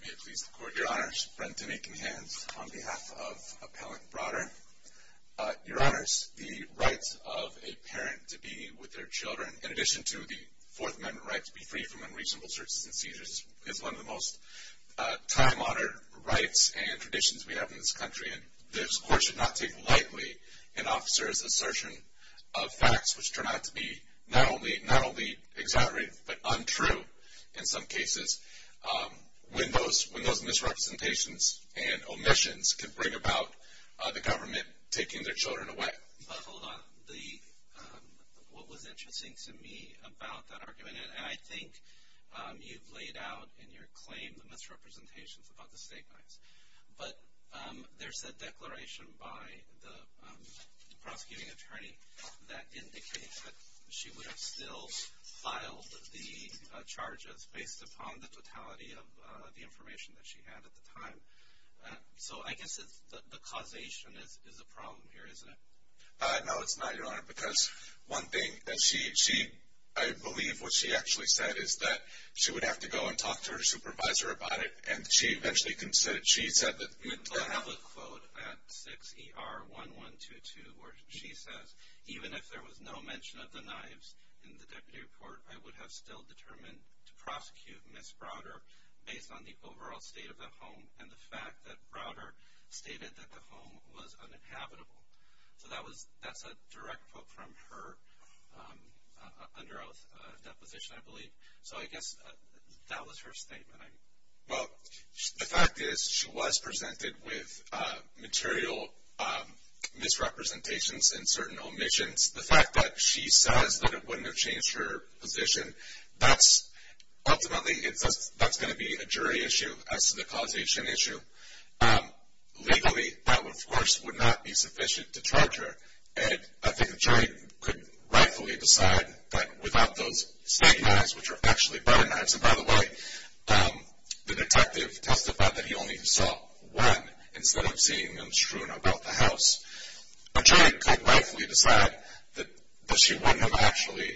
May it please the Court, Your Honors. Brent Dinekenhans on behalf of Appellant Browder. Your Honors, the right of a parent to be with their children, in addition to the Fourth Amendment right to be free from unreasonable searches and seizures, is one of the most time-honored rights and traditions we have in this country. This Court should not take lightly an officer's assertion of facts which turn out to be not only exaggerated but untrue in some cases when those misrepresentations and omissions can bring about the government taking their children away. What was interesting to me about that argument, and I think you've laid out in your claim the misrepresentations about the state fines, but there's a declaration by the prosecuting attorney that indicates that she would have still filed the charges based upon the totality of the information that she had at the time. So I guess the causation is the problem here, isn't it? No, it's not, Your Honor, because one thing that she, I believe what she actually said is that she would have to go and talk to her supervisor about it, and she eventually consented. She said that... I have a quote at 6ER1122 where she says, even if there was no mention of the knives in the deputy report, I would have still determined to prosecute Ms. Browder based on the overall state of the home and the fact that Browder stated that the home was uninhabitable. So that's a direct quote from her under oath deposition, I believe. So I guess that was her statement. Well, the fact is she was presented with material misrepresentations and certain omissions. The fact that she says that it wouldn't have changed her position, that's ultimately going to be a jury issue as to the causation issue. Legally, that, of course, would not be sufficient to charge her, and I think the jury could rightfully decide that without those knives, which are actually Browder knives, and by the way, the detective testified that he only saw one instead of seeing them strewn about the house. A jury could rightfully decide that she wouldn't have actually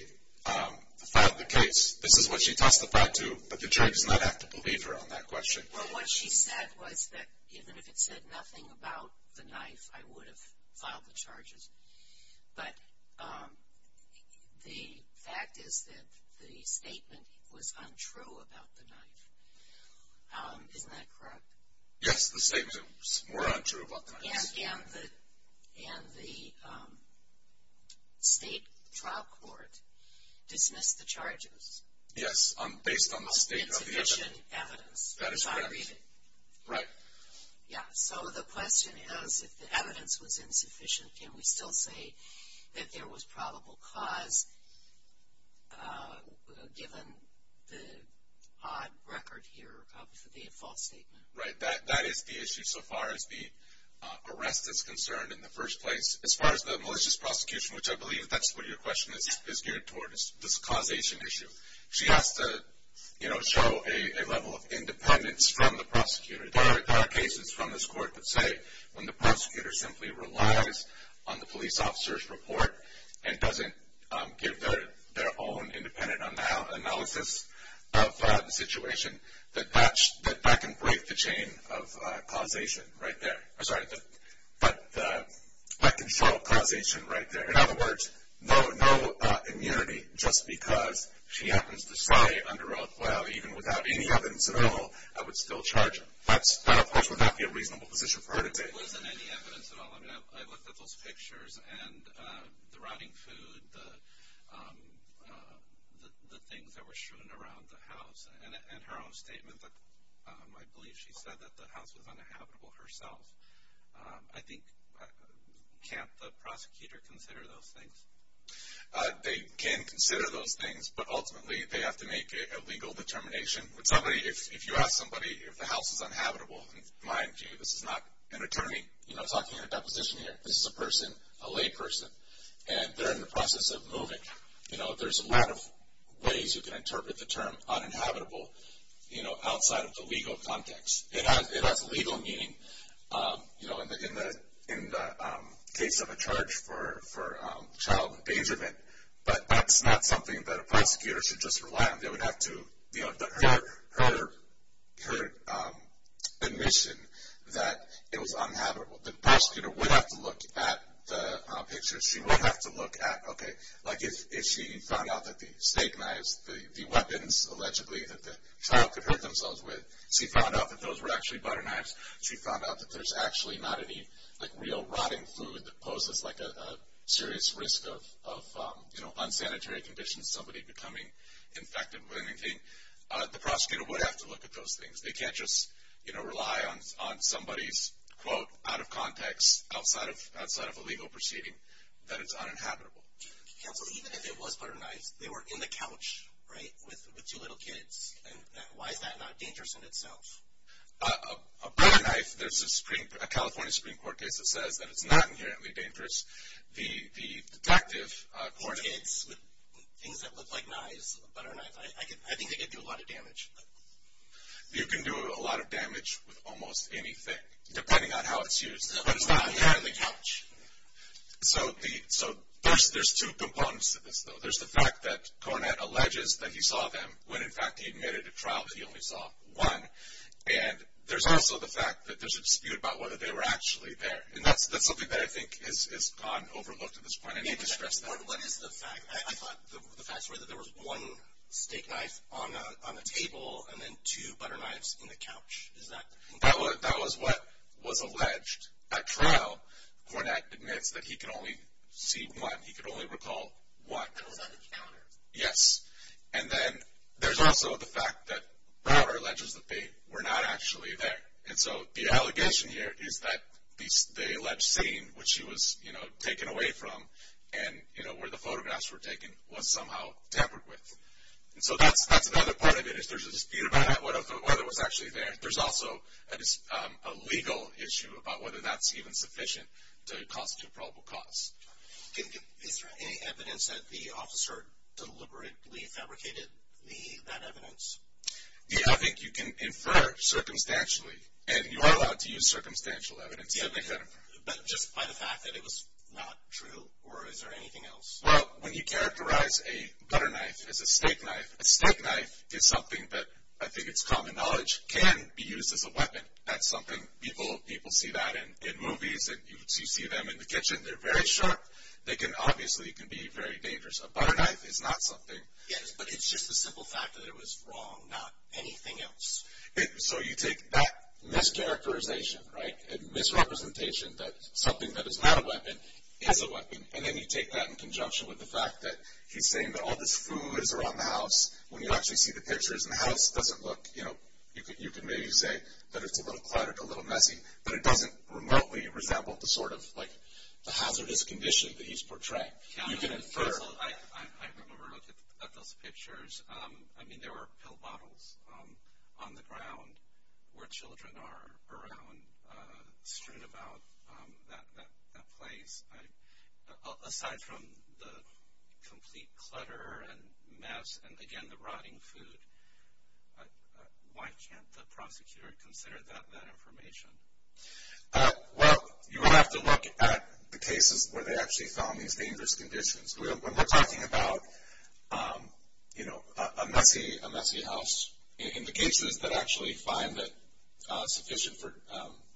filed the case. This is what she testified to, but the jury does not have to believe her on that question. Well, what she said was that even if it said nothing about the knife, I would have filed the charges. But the fact is that the statement was untrue about the knife. Isn't that correct? Yes, the statement was more untrue about the knife. And the state trial court dismissed the charges. Yes, based on the state of the evidence. That is correct. Which I read it. Right. Yes, so the question is, if the evidence was insufficient, can we still say that there was probable cause given the odd record here of the false statement? Right, that is the issue so far as the arrest is concerned in the first place. As far as the malicious prosecution, which I believe that's what your question is geared toward, this causation issue, she has to show a level of independence from the prosecutor. There are cases from this court that say when the prosecutor simply relies on the police officer's report and doesn't give their own independent analysis of the situation, that that can break the chain of causation right there. I'm sorry, but that can show causation right there. In other words, no immunity just because she happens to say under oath, well, even without any evidence at all, I would still charge her. That, of course, would not be a reasonable position for her to take. There wasn't any evidence at all. I looked at those pictures and the rotting food, the things that were shown around the house, and her own statement that I believe she said that the house was uninhabitable herself. I think can't the prosecutor consider those things? They can consider those things, but ultimately they have to make a legal determination. If you ask somebody if the house is uninhabitable, mind you, this is not an attorney talking in a deposition here. This is a person, a lay person, and they're in the process of moving. There's a lot of ways you can interpret the term uninhabitable outside of the legal context. It has legal meaning, you know, in the case of a charge for child endangerment, but that's not something that a prosecutor should just rely on. They would have to, you know, her admission that it was uninhabitable, the prosecutor would have to look at the pictures. She would have to look at, okay, like if she found out that the snake knives, the weapons allegedly that the child could hurt themselves with, she found out that those were actually butter knives, she found out that there's actually not any like real rotting food that poses like a serious risk of, you know, unsanitary conditions, somebody becoming infected with anything. The prosecutor would have to look at those things. They can't just, you know, rely on somebody's quote out of context outside of a legal proceeding that it's uninhabitable. Counsel, even if it was butter knives, they were in the couch, right, with two little kids. Why is that not dangerous in itself? A butter knife, there's a California Supreme Court case that says that it's not inherently dangerous. The detective court. With kids, with things that look like knives, a butter knife, I think they could do a lot of damage. You can do a lot of damage with almost anything, depending on how it's used. But it's not inherently couch. So there's two components to this, though. There's the fact that Cornett alleges that he saw them when, in fact, he admitted to trial that he only saw one. And there's also the fact that there's a dispute about whether they were actually there. And that's something that I think has gone overlooked at this point. I need to stress that. What is the fact? I thought the facts were that there was one steak knife on the table and then two butter knives in the couch. That was what was alleged at trial. Cornett admits that he could only see one. He could only recall one. That was on the counter. Yes. And then there's also the fact that Robert alleges that they were not actually there. And so the allegation here is that the alleged scene, which he was taken away from, and where the photographs were taken, was somehow tampered with. And so that's another part of it is there's a dispute about whether it was actually there. There's also a legal issue about whether that's even sufficient to constitute probable cause. Is there any evidence that the officer deliberately fabricated that evidence? Yeah, I think you can infer circumstantially. And you are allowed to use circumstantial evidence to make that infer. But just by the fact that it was not true? Or is there anything else? Well, when you characterize a butter knife as a steak knife, a steak knife is something that I think it's common knowledge can be used as a weapon. That's something people see that in movies and you see them in the kitchen. They're very sharp. They can obviously be very dangerous. A butter knife is not something. Yes, but it's just the simple fact that it was wrong, not anything else. So you take that mischaracterization, right, a misrepresentation that something that is not a weapon is a weapon, and then you take that in conjunction with the fact that he's saying that all this food is around the house. When you actually see the pictures and the house doesn't look, you know, you can maybe say that it's a little cluttered, a little messy, but it doesn't remotely resemble the sort of hazardous condition that he's portraying. You can infer. I remember looking at those pictures. I mean, there were pill bottles on the ground where children are around strewn about that place. Aside from the complete clutter and mess and, again, the rotting food, why can't the prosecutor consider that information? Well, you would have to look at the cases where they actually found these dangerous conditions. When we're talking about, you know, a messy house, in the cases that actually find it sufficient for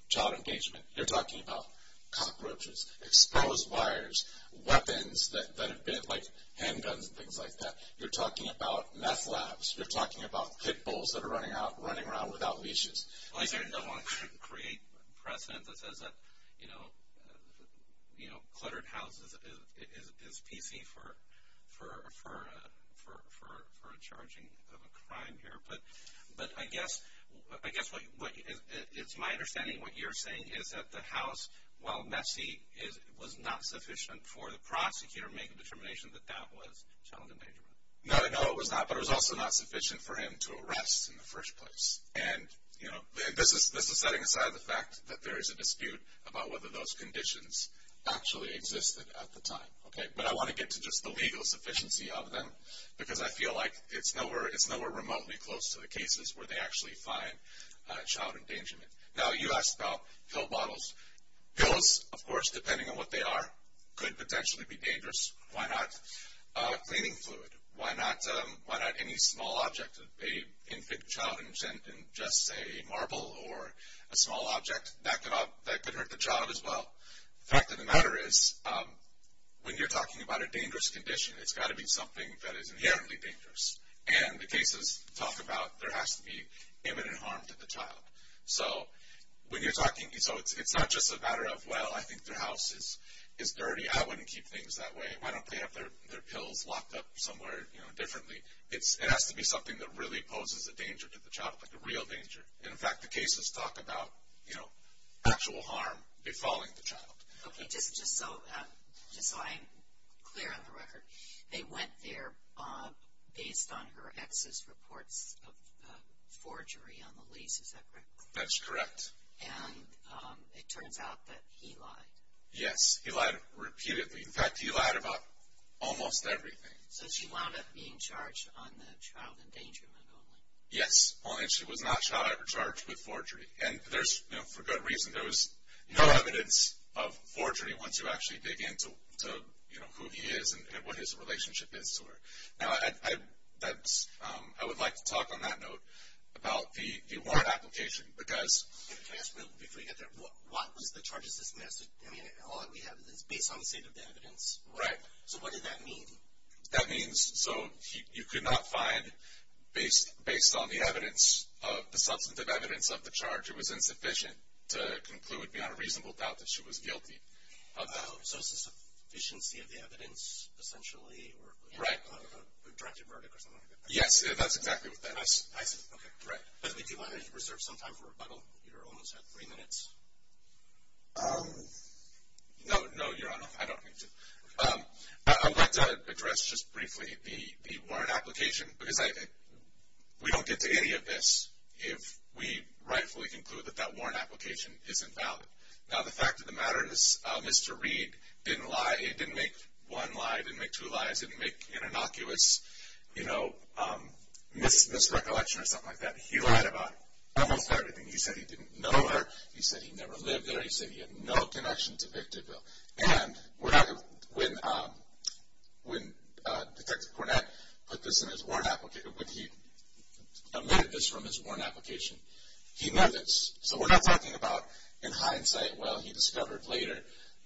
child engagement, you're talking about cockroaches, exposed wires, weapons that have been, like handguns and things like that. You're talking about meth labs. You're talking about pit bulls that are running around without leashes. Well, I certainly don't want to create precedent that says that, you know, cluttered houses is PC for a charging of a crime here. But I guess it's my understanding what you're saying is that the house, while messy, was not sufficient for the prosecutor to make a determination that that was child engagement. No, no, it was not. But it was also not sufficient for him to arrest in the first place. And, you know, this is setting aside the fact that there is a dispute about whether those conditions actually existed at the time. But I want to get to just the legal sufficiency of them, because I feel like it's nowhere remotely close to the cases where they actually find child endangerment. Now, you asked about pill bottles. Pills, of course, depending on what they are, could potentially be dangerous. Why not cleaning fluid? Why not any small object? An infant child and just a marble or a small object, that could hurt the child as well. The fact of the matter is, when you're talking about a dangerous condition, it's got to be something that is inherently dangerous. And the cases talk about there has to be imminent harm to the child. So when you're talking, so it's not just a matter of, well, I think their house is dirty. I wouldn't keep things that way. Why don't they have their pills locked up somewhere differently? It has to be something that really poses a danger to the child, like a real danger. And, in fact, the cases talk about, you know, actual harm befalling the child. Okay, just so I'm clear on the record, they went there based on her ex's reports of forgery on the lease. Is that correct? That's correct. And it turns out that he lied. Yes, he lied repeatedly. In fact, he lied about almost everything. So she wound up being charged on the child endangerment only? Yes, only she was not charged with forgery. And there's, you know, for good reason. There was no evidence of forgery once you actually dig in to, you know, who he is and what his relationship is to her. Now, I would like to talk on that note about the warrant application. Can I ask before you get there, what was the charges dismissed? I mean, all that we have is based on the state of the evidence. Right. So what did that mean? That means, so you could not find, based on the evidence, the substantive evidence of the charge, it was insufficient to conclude beyond a reasonable doubt that she was guilty of that. So it's a sufficiency of the evidence, essentially, or a directed verdict or something like that? Yes, that's exactly what that is. I see. Okay, great. I think you wanted to reserve some time for rebuttal. You're almost at three minutes. No, Your Honor, I don't need to. I would like to address just briefly the warrant application, because we don't get to any of this if we rightfully conclude that that warrant application isn't valid. Now, the fact of the matter is Mr. Reed didn't lie. He didn't make one lie, didn't make two lies, didn't make an innocuous, you know, misrecollection or something like that. He lied about almost everything. He said he didn't know her. He said he never lived there. He said he had no connection to Victorville. And when Detective Cornett put this in his warrant application, when he omitted this from his warrant application, he knew this. So we're not talking about, in hindsight, well, he discovered later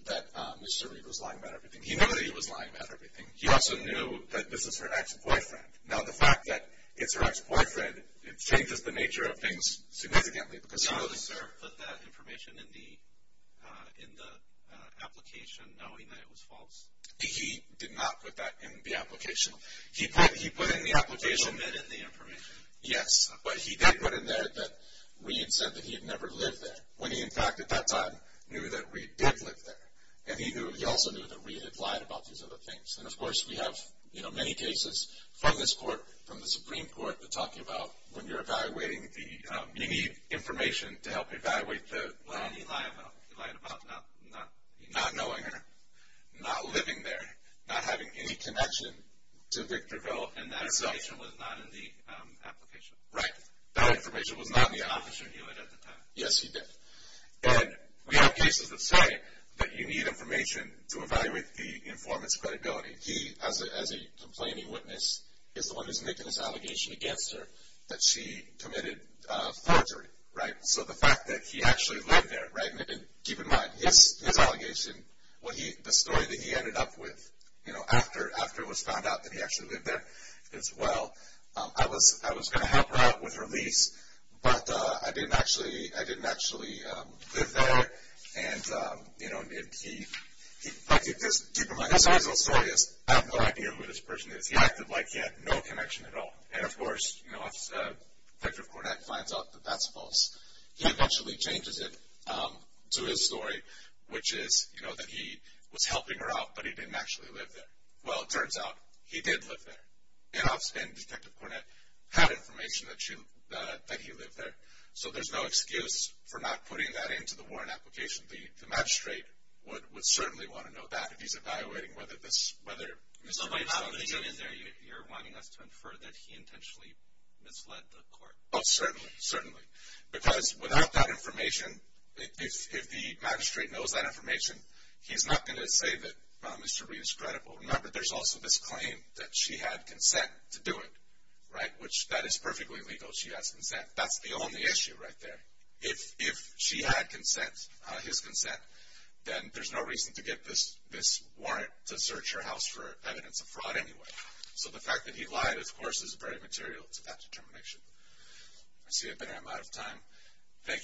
that Mr. Reed was lying about everything. He knew that he was lying about everything. He also knew that this was her ex-boyfriend. Now, the fact that it's her ex-boyfriend changes the nature of things significantly. He also put that information in the application knowing that it was false. He did not put that in the application. He put in the application. He omitted the information. Yes, but he did put in there that Reed said that he had never lived there, when he, in fact, at that time knew that Reed did live there. And he also knew that Reed had lied about these other things. And, of course, we have many cases from this court, from the Supreme Court, that talk about when you're evaluating, you need information to help evaluate. Well, he lied about not knowing her, not living there, not having any connection to Victorville. And that information was not in the application. Right. That information was not in the application. The officer knew it at the time. Yes, he did. And we have cases that say that you need information to evaluate the informant's credibility. He, as a complaining witness, is the one who's making this allegation against her that she committed forgery. Right. So the fact that he actually lived there, right, and keep in mind, his allegation, the story that he ended up with after it was found out that he actually lived there, as well, I was going to help her out with her lease, but I didn't actually live there. And, you know, I keep this, keep in mind, his original story is I have no idea who this person is. He acted like he had no connection at all. And, of course, you know, if Victor Cornett finds out that that's false, he eventually changes it to his story, which is, you know, that he was helping her out, but he didn't actually live there. Well, it turns out he did live there. And Detective Cornett had information that he lived there. So there's no excuse for not putting that into the warrant application. The magistrate would certainly want to know that if he's evaluating whether this, whether Mr. Reed is telling the truth. So by not putting it in there, you're wanting us to infer that he intentionally misled the court. Oh, certainly, certainly. Because without that information, if the magistrate knows that information, he's not going to say that Mr. Reed is credible. Remember, there's also this claim that she had consent to do it, right, which that is perfectly legal, she has consent. That's the only issue right there. If she had consent, his consent, then there's no reason to get this warrant to search her house for evidence of fraud anyway. So the fact that he lied, of course, is very material to that determination. Thank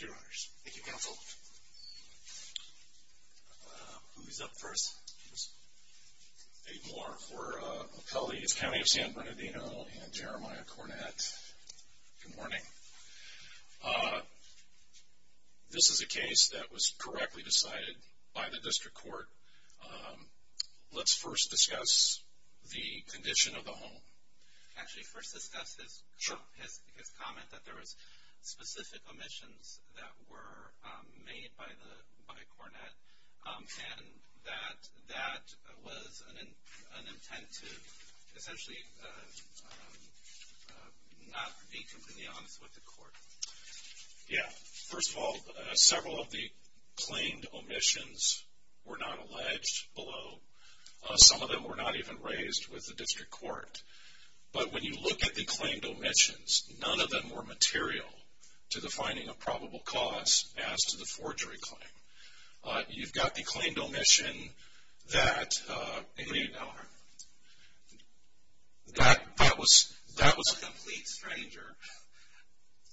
you, Your Honors. Thank you, Counsel. Who's up first? Dave Moore for Appellees County of San Bernardino and Jeremiah Cornett. Good morning. This is a case that was correctly decided by the district court. Let's first discuss the condition of the home. Actually, first discuss his comment that there was specific omissions that were made by Cornett, and that that was an intent to essentially not be convenient with the court. Yeah. First of all, several of the claimed omissions were not alleged, although some of them were not even raised with the district court. But when you look at the claimed omissions, none of them were material to the finding of probable cause as to the forgery claim. You've got the claimed omission that, that was a complete stranger.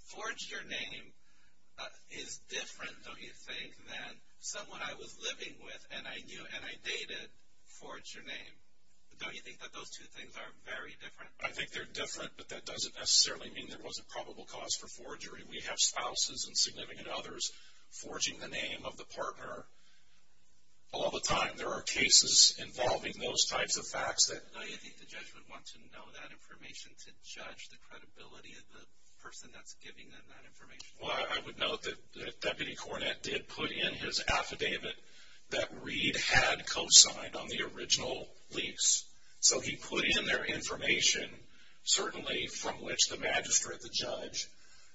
Forge your name is different, don't you think, than someone I was living with and I knew and I dated. Forge your name. Don't you think that those two things are very different? I think they're different, but that doesn't necessarily mean there wasn't probable cause for forgery. We have spouses and significant others forging the name of the partner all the time. There are cases involving those types of facts that... Don't you think the judge would want to know that information to judge the credibility of the person that's giving them that information? Well, I would note that Deputy Cornett did put in his affidavit that Reed had co-signed on the original lease. So he put in there information, certainly from which the magistrate, the judge,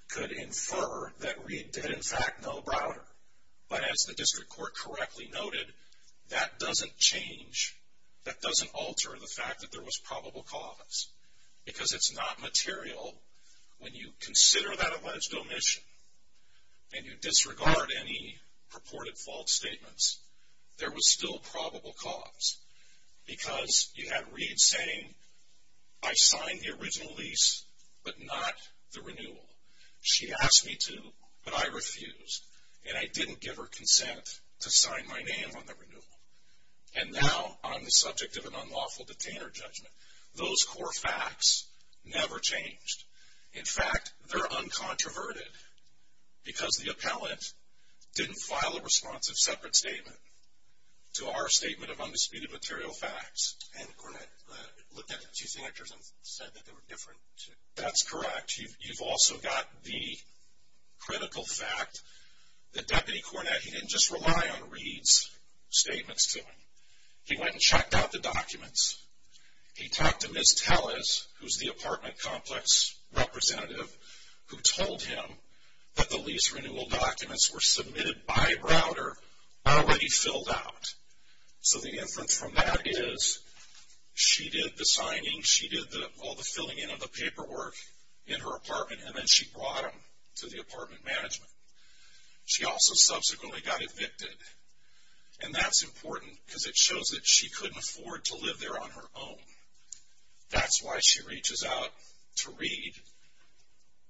could infer that Reed did in fact know Browder. But as the district court correctly noted, that doesn't change, that doesn't alter the fact that there was probable cause. Because it's not material. When you consider that alleged omission and you disregard any purported false statements, there was still probable cause. Because you had Reed saying, I signed the original lease, but not the renewal. She asked me to, but I refused. And I didn't give her consent to sign my name on the renewal. And now I'm the subject of an unlawful detainer judgment. Those core facts never changed. In fact, they're uncontroverted. Because the appellant didn't file a responsive separate statement to our statement of undisputed material facts. And Cornett looked at the two signatures and said that they were different. That's correct. You've also got the critical fact that Deputy Cornett, he didn't just rely on Reed's statements to him. He went and checked out the documents. He talked to Ms. Telles, who's the apartment complex representative, who told him that the lease renewal documents were submitted by Browder, already filled out. So the inference from that is she did the signing, she did all the filling in of the paperwork in her apartment, and then she brought them to the apartment management. She also subsequently got evicted. And that's important because it shows that she couldn't afford to live there on her own. That's why she reaches out to Reed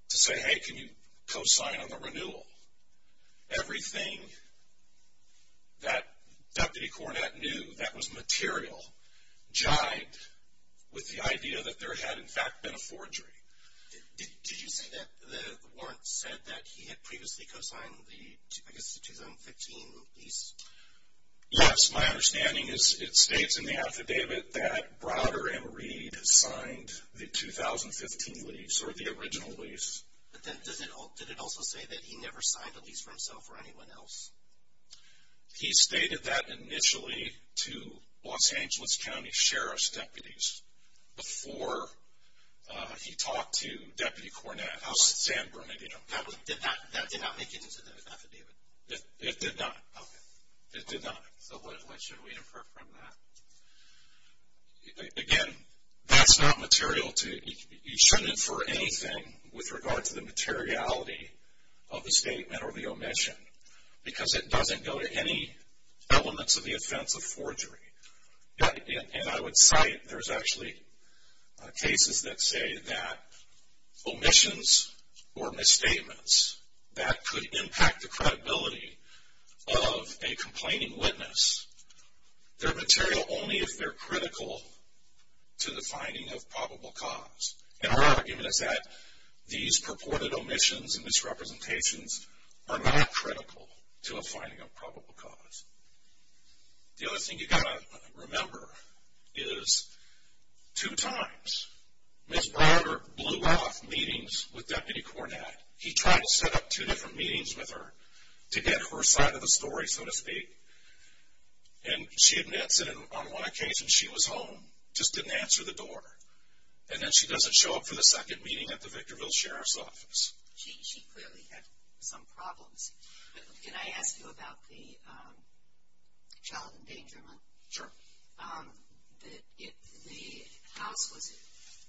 to say, hey, can you co-sign on the renewal? Everything that Deputy Cornett knew that was material jived with the idea that there had, in fact, been a forgery. Did you say that the warrant said that he had previously co-signed, I guess, the 2015 lease? Yes. My understanding is it states in the affidavit that Browder and Reed signed the 2015 lease, or the original lease. But then did it also say that he never signed the lease for himself or anyone else? He stated that initially to Los Angeles County Sheriff's deputies before he talked to Deputy Cornett, House San Bernardino. That did not make it into the affidavit? It did not. Okay. It did not. So what should we infer from that? Again, that's not material. You shouldn't infer anything with regard to the materiality of the statement or the omission because it doesn't go to any elements of the offense of forgery. And I would cite, there's actually cases that say that omissions or misstatements, that could impact the credibility of a complaining witness. They're material only if they're critical to the finding of probable cause. And our argument is that these purported omissions and misrepresentations are not critical to a finding of probable cause. The other thing you've got to remember is two times Ms. Browder blew off meetings with Deputy Cornett. He tried to set up two different meetings with her to get her side of the story, so to speak. And she admits that on one occasion she was home, just didn't answer the door. And then she doesn't show up for the second meeting at the Victorville Sheriff's Office. She clearly had some problems. Can I ask you about the child endangerment? Sure.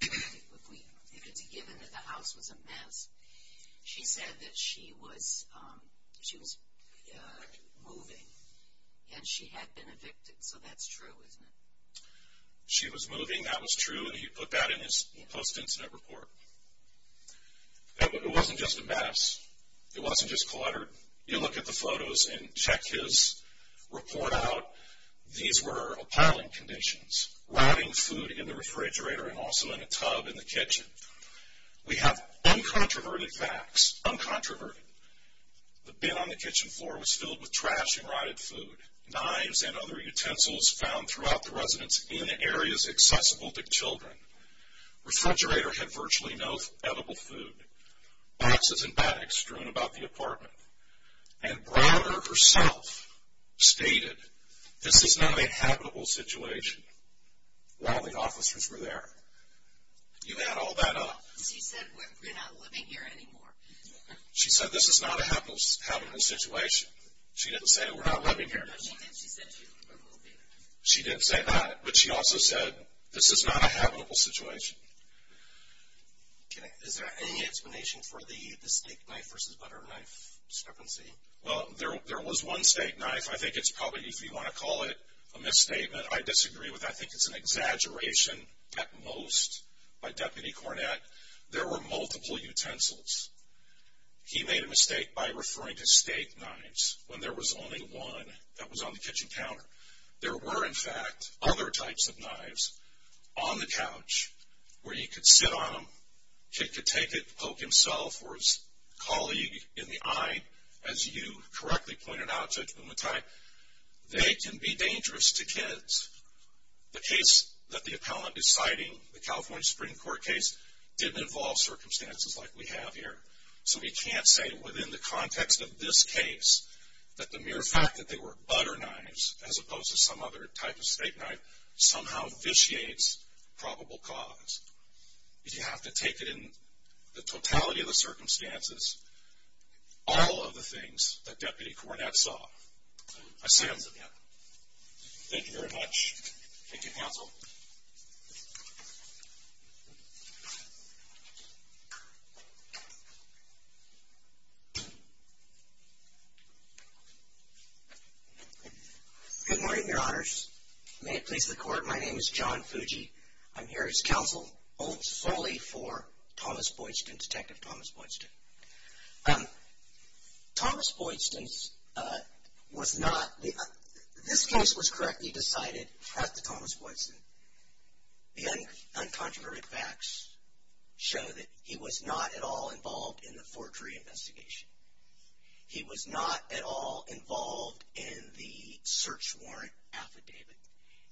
If it's given that the house was a mess, she said that she was moving and she had been evicted. So that's true, isn't it? She was moving, that was true, and he put that in his post-incident report. It wasn't just a mess. It wasn't just cluttered. You look at the photos and check his report out. These were appalling conditions, rotting food in the refrigerator and also in a tub in the kitchen. We have uncontroverted facts, uncontroverted. The bin on the kitchen floor was filled with trash and rotted food. Knives and other utensils found throughout the residence in areas accessible to children. Refrigerator had virtually no edible food. Boxes and bags strewn about the apartment. And Browder herself stated, this is not a habitable situation. While the officers were there. You add all that up. She said, we're not living here anymore. She said, this is not a habitable situation. She didn't say, we're not living here anymore. She said, we're moving. She didn't say that, but she also said, this is not a habitable situation. Is there any explanation for the steak knife versus butter knife discrepancy? Well, there was one steak knife. I think it's probably, if you want to call it a misstatement, I disagree with that. I think it's an exaggeration at most by Deputy Cornett. There were multiple utensils. He made a mistake by referring to steak knives when there was only one that was on the kitchen counter. There were, in fact, other types of knives on the couch where you could sit on them. Kid could take it, poke himself or his colleague in the eye, as you correctly pointed out, Judge Bumatat. They can be dangerous to kids. The case that the appellant is citing, the California Supreme Court case, didn't involve circumstances like we have here. So we can't say within the context of this case that the mere fact that they were butter knives, as opposed to some other type of steak knife, somehow vitiates probable cause. You have to take it in the totality of the circumstances, all of the things that Deputy Cornett saw. I stand with him. Thank you, counsel. Good morning, Your Honors. May it please the Court, my name is John Fuji. I'm here as counsel solely for Thomas Boydston, Detective Thomas Boydston. Thomas Boydston was not, this case was correctly decided at the Thomas Boydston. The uncontroverted facts show that he was not at all involved in the forgery investigation. He was not at all involved in the search warrant affidavit.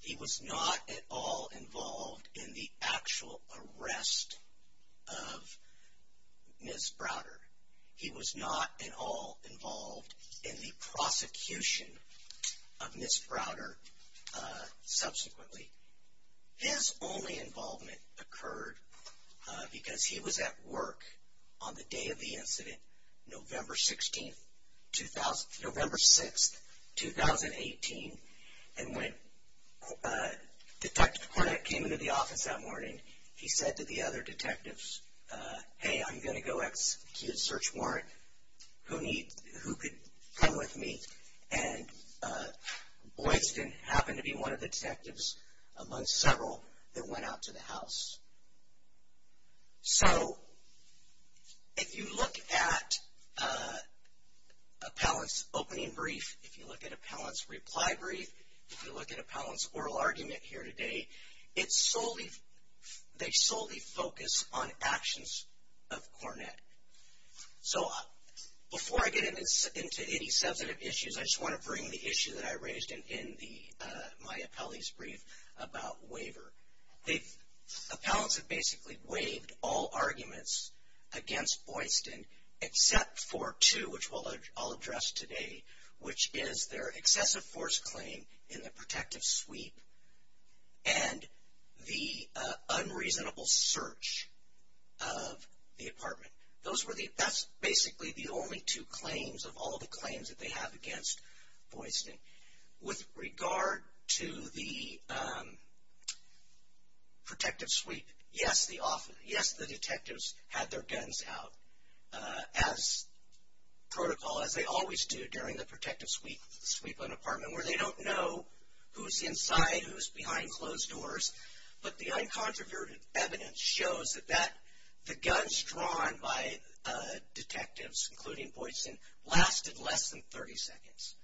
He was not at all involved in the actual arrest of Ms. Browder. He was not at all involved in the prosecution of Ms. Browder subsequently. His only involvement occurred because he was at work on the day of the incident, November 6th, 2018. And when Detective Cornett came into the office that morning, he said to the other detectives, hey, I'm going to go execute a search warrant. Who could come with me? And Boydston happened to be one of the detectives amongst several that went out to the house. So, if you look at Appellant's opening brief, if you look at Appellant's reply brief, if you look at Appellant's oral argument here today, they solely focus on actions of Cornett. So, before I get into any substantive issues, I just want to bring the issue that I raised in my appellee's brief about waiver. Appellants have basically waived all arguments against Boydston except for two, which I'll address today, which is their excessive force claim in the protective sweep and the unreasonable search of the apartment. That's basically the only two claims of all the claims that they have against Boydston. With regard to the protective sweep, yes, the detectives had their guns out as protocol, as they always do during the protective sweep of an apartment, where they don't know who's inside, who's behind closed doors, but the uncontroverted evidence shows that the guns drawn by detectives, including Boydston, lasted less than 30 seconds.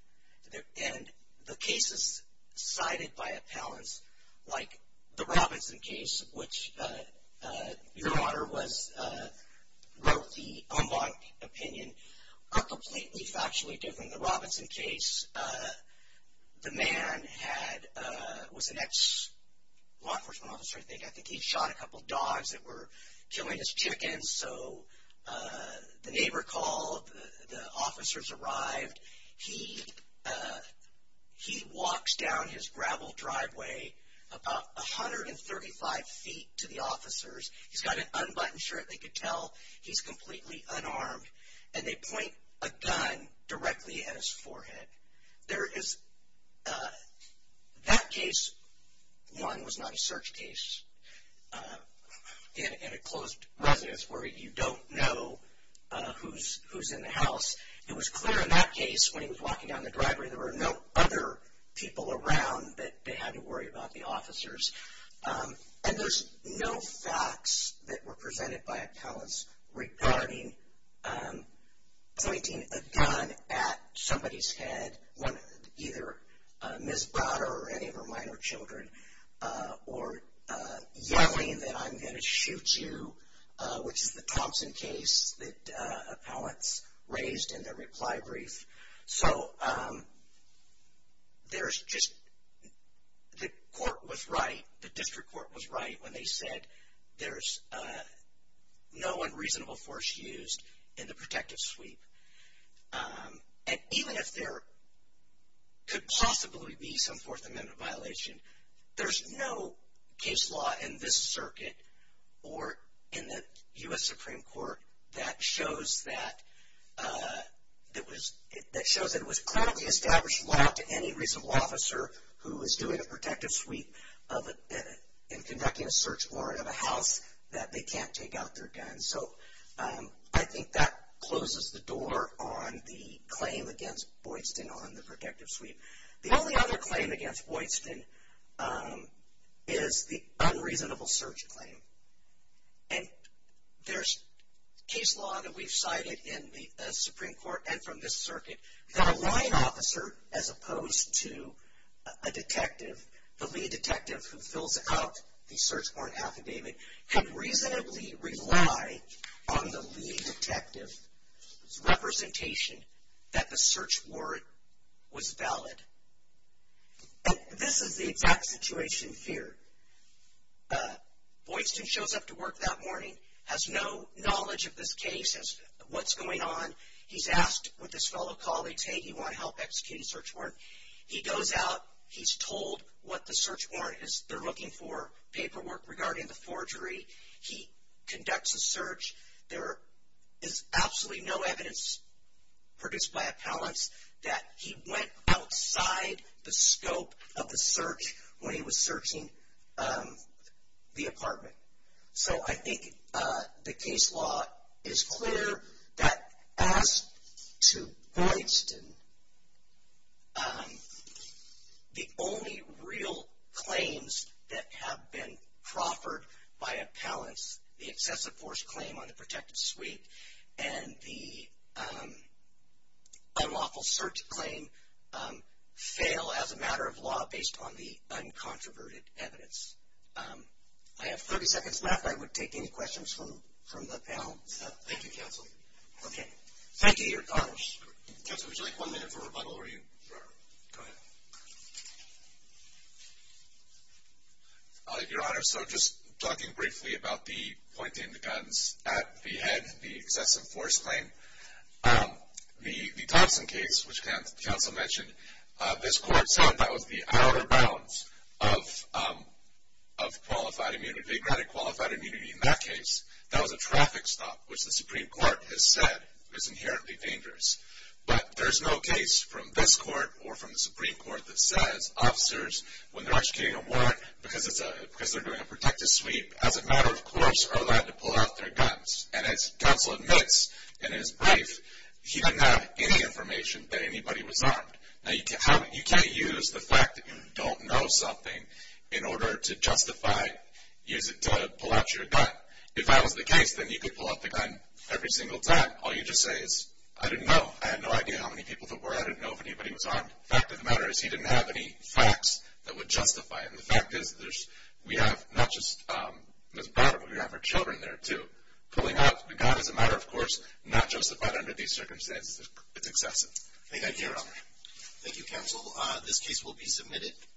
And the cases cited by Appellants, like the Robinson case, which Your Honor wrote the unblocked opinion, are completely factually different. In the Robinson case, the man was an ex-law enforcement officer, I think. I think he shot a couple dogs that were killing his chickens. So the neighbor called, the officers arrived. He walks down his gravel driveway about 135 feet to the officers. He's got an unbuttoned shirt. They could tell he's completely unarmed. And they point a gun directly at his forehead. That case, one, was not a search case in a closed residence where you don't know who's in the house. It was clear in that case when he was walking down the driveway there were no other people around that they had to worry about the officers. And there's no facts that were presented by Appellants regarding pointing a gun at somebody's head, either Ms. Browder or any of her minor children, or yelling that I'm going to shoot you, which is the Thompson case that Appellants raised in their reply brief. So there's just, the court was right, the district court was right when they said there's no unreasonable force used in the protective sweep. And even if there could possibly be some Fourth Amendment violation, there's no case law in this circuit or in the U.S. Supreme Court that shows that it was clearly established law to any reasonable officer who was doing a protective sweep in conducting a search warrant of a house that they can't take out their guns. So I think that closes the door on the claim against Boydston on the protective sweep. The only other claim against Boydston is the unreasonable search claim. And there's case law that we've cited in the Supreme Court and from this circuit that a line officer as opposed to a detective, the lead detective who fills out the search warrant affidavit, can reasonably rely on the lead detective's representation that the search warrant was valid. And this is the exact situation feared. Boydston shows up to work that morning, has no knowledge of this case, what's going on. He's asked what this fellow call they take. He wants to help execute the search warrant. He goes out. He's told what the search warrant is. They're looking for paperwork regarding the forgery. He conducts a search. There is absolutely no evidence produced by appellants that he went outside the scope of the search when he was searching the apartment. So I think the case law is clear that as to Boydston, the only real claims that have been proffered by appellants, the excessive force claim on the protected suite and the unlawful search claim, fail as a matter of law based on the uncontroverted evidence. I have 30 seconds left. I would take any questions from the appellants. Thank you, Counsel. Okay. Thank you, Your Honors. Counsel, would you like one minute for rebuttal? Sure. Go ahead. Your Honor, so just talking briefly about the pointing the guns at the head, the excessive force claim, the Thompson case, which Counsel mentioned, this court said that was the outer bounds of qualified immunity. They granted qualified immunity in that case. That was a traffic stop, which the Supreme Court has said is inherently dangerous. But there's no case from this court or from the Supreme Court that says officers, when they're executing a warrant because they're doing a protected suite, as a matter of course, are allowed to pull out their guns. And as Counsel admits in his brief, he didn't have any information that anybody was armed. Now, you can't use the fact that you don't know something in order to justify, use it to pull out your gun. If that was the case, then you could pull out the gun every single time. All you just say is, I didn't know. I had no idea how many people there were. I didn't know if anybody was armed. The fact of the matter is he didn't have any facts that would justify it. And the fact is, we have not just Ms. Braddock, but we have her children there, too. Pulling out the gun is a matter, of course, not justified under these circumstances. It's excessive. Thank you, Your Honor. Thank you, Counsel. This case will be submitted.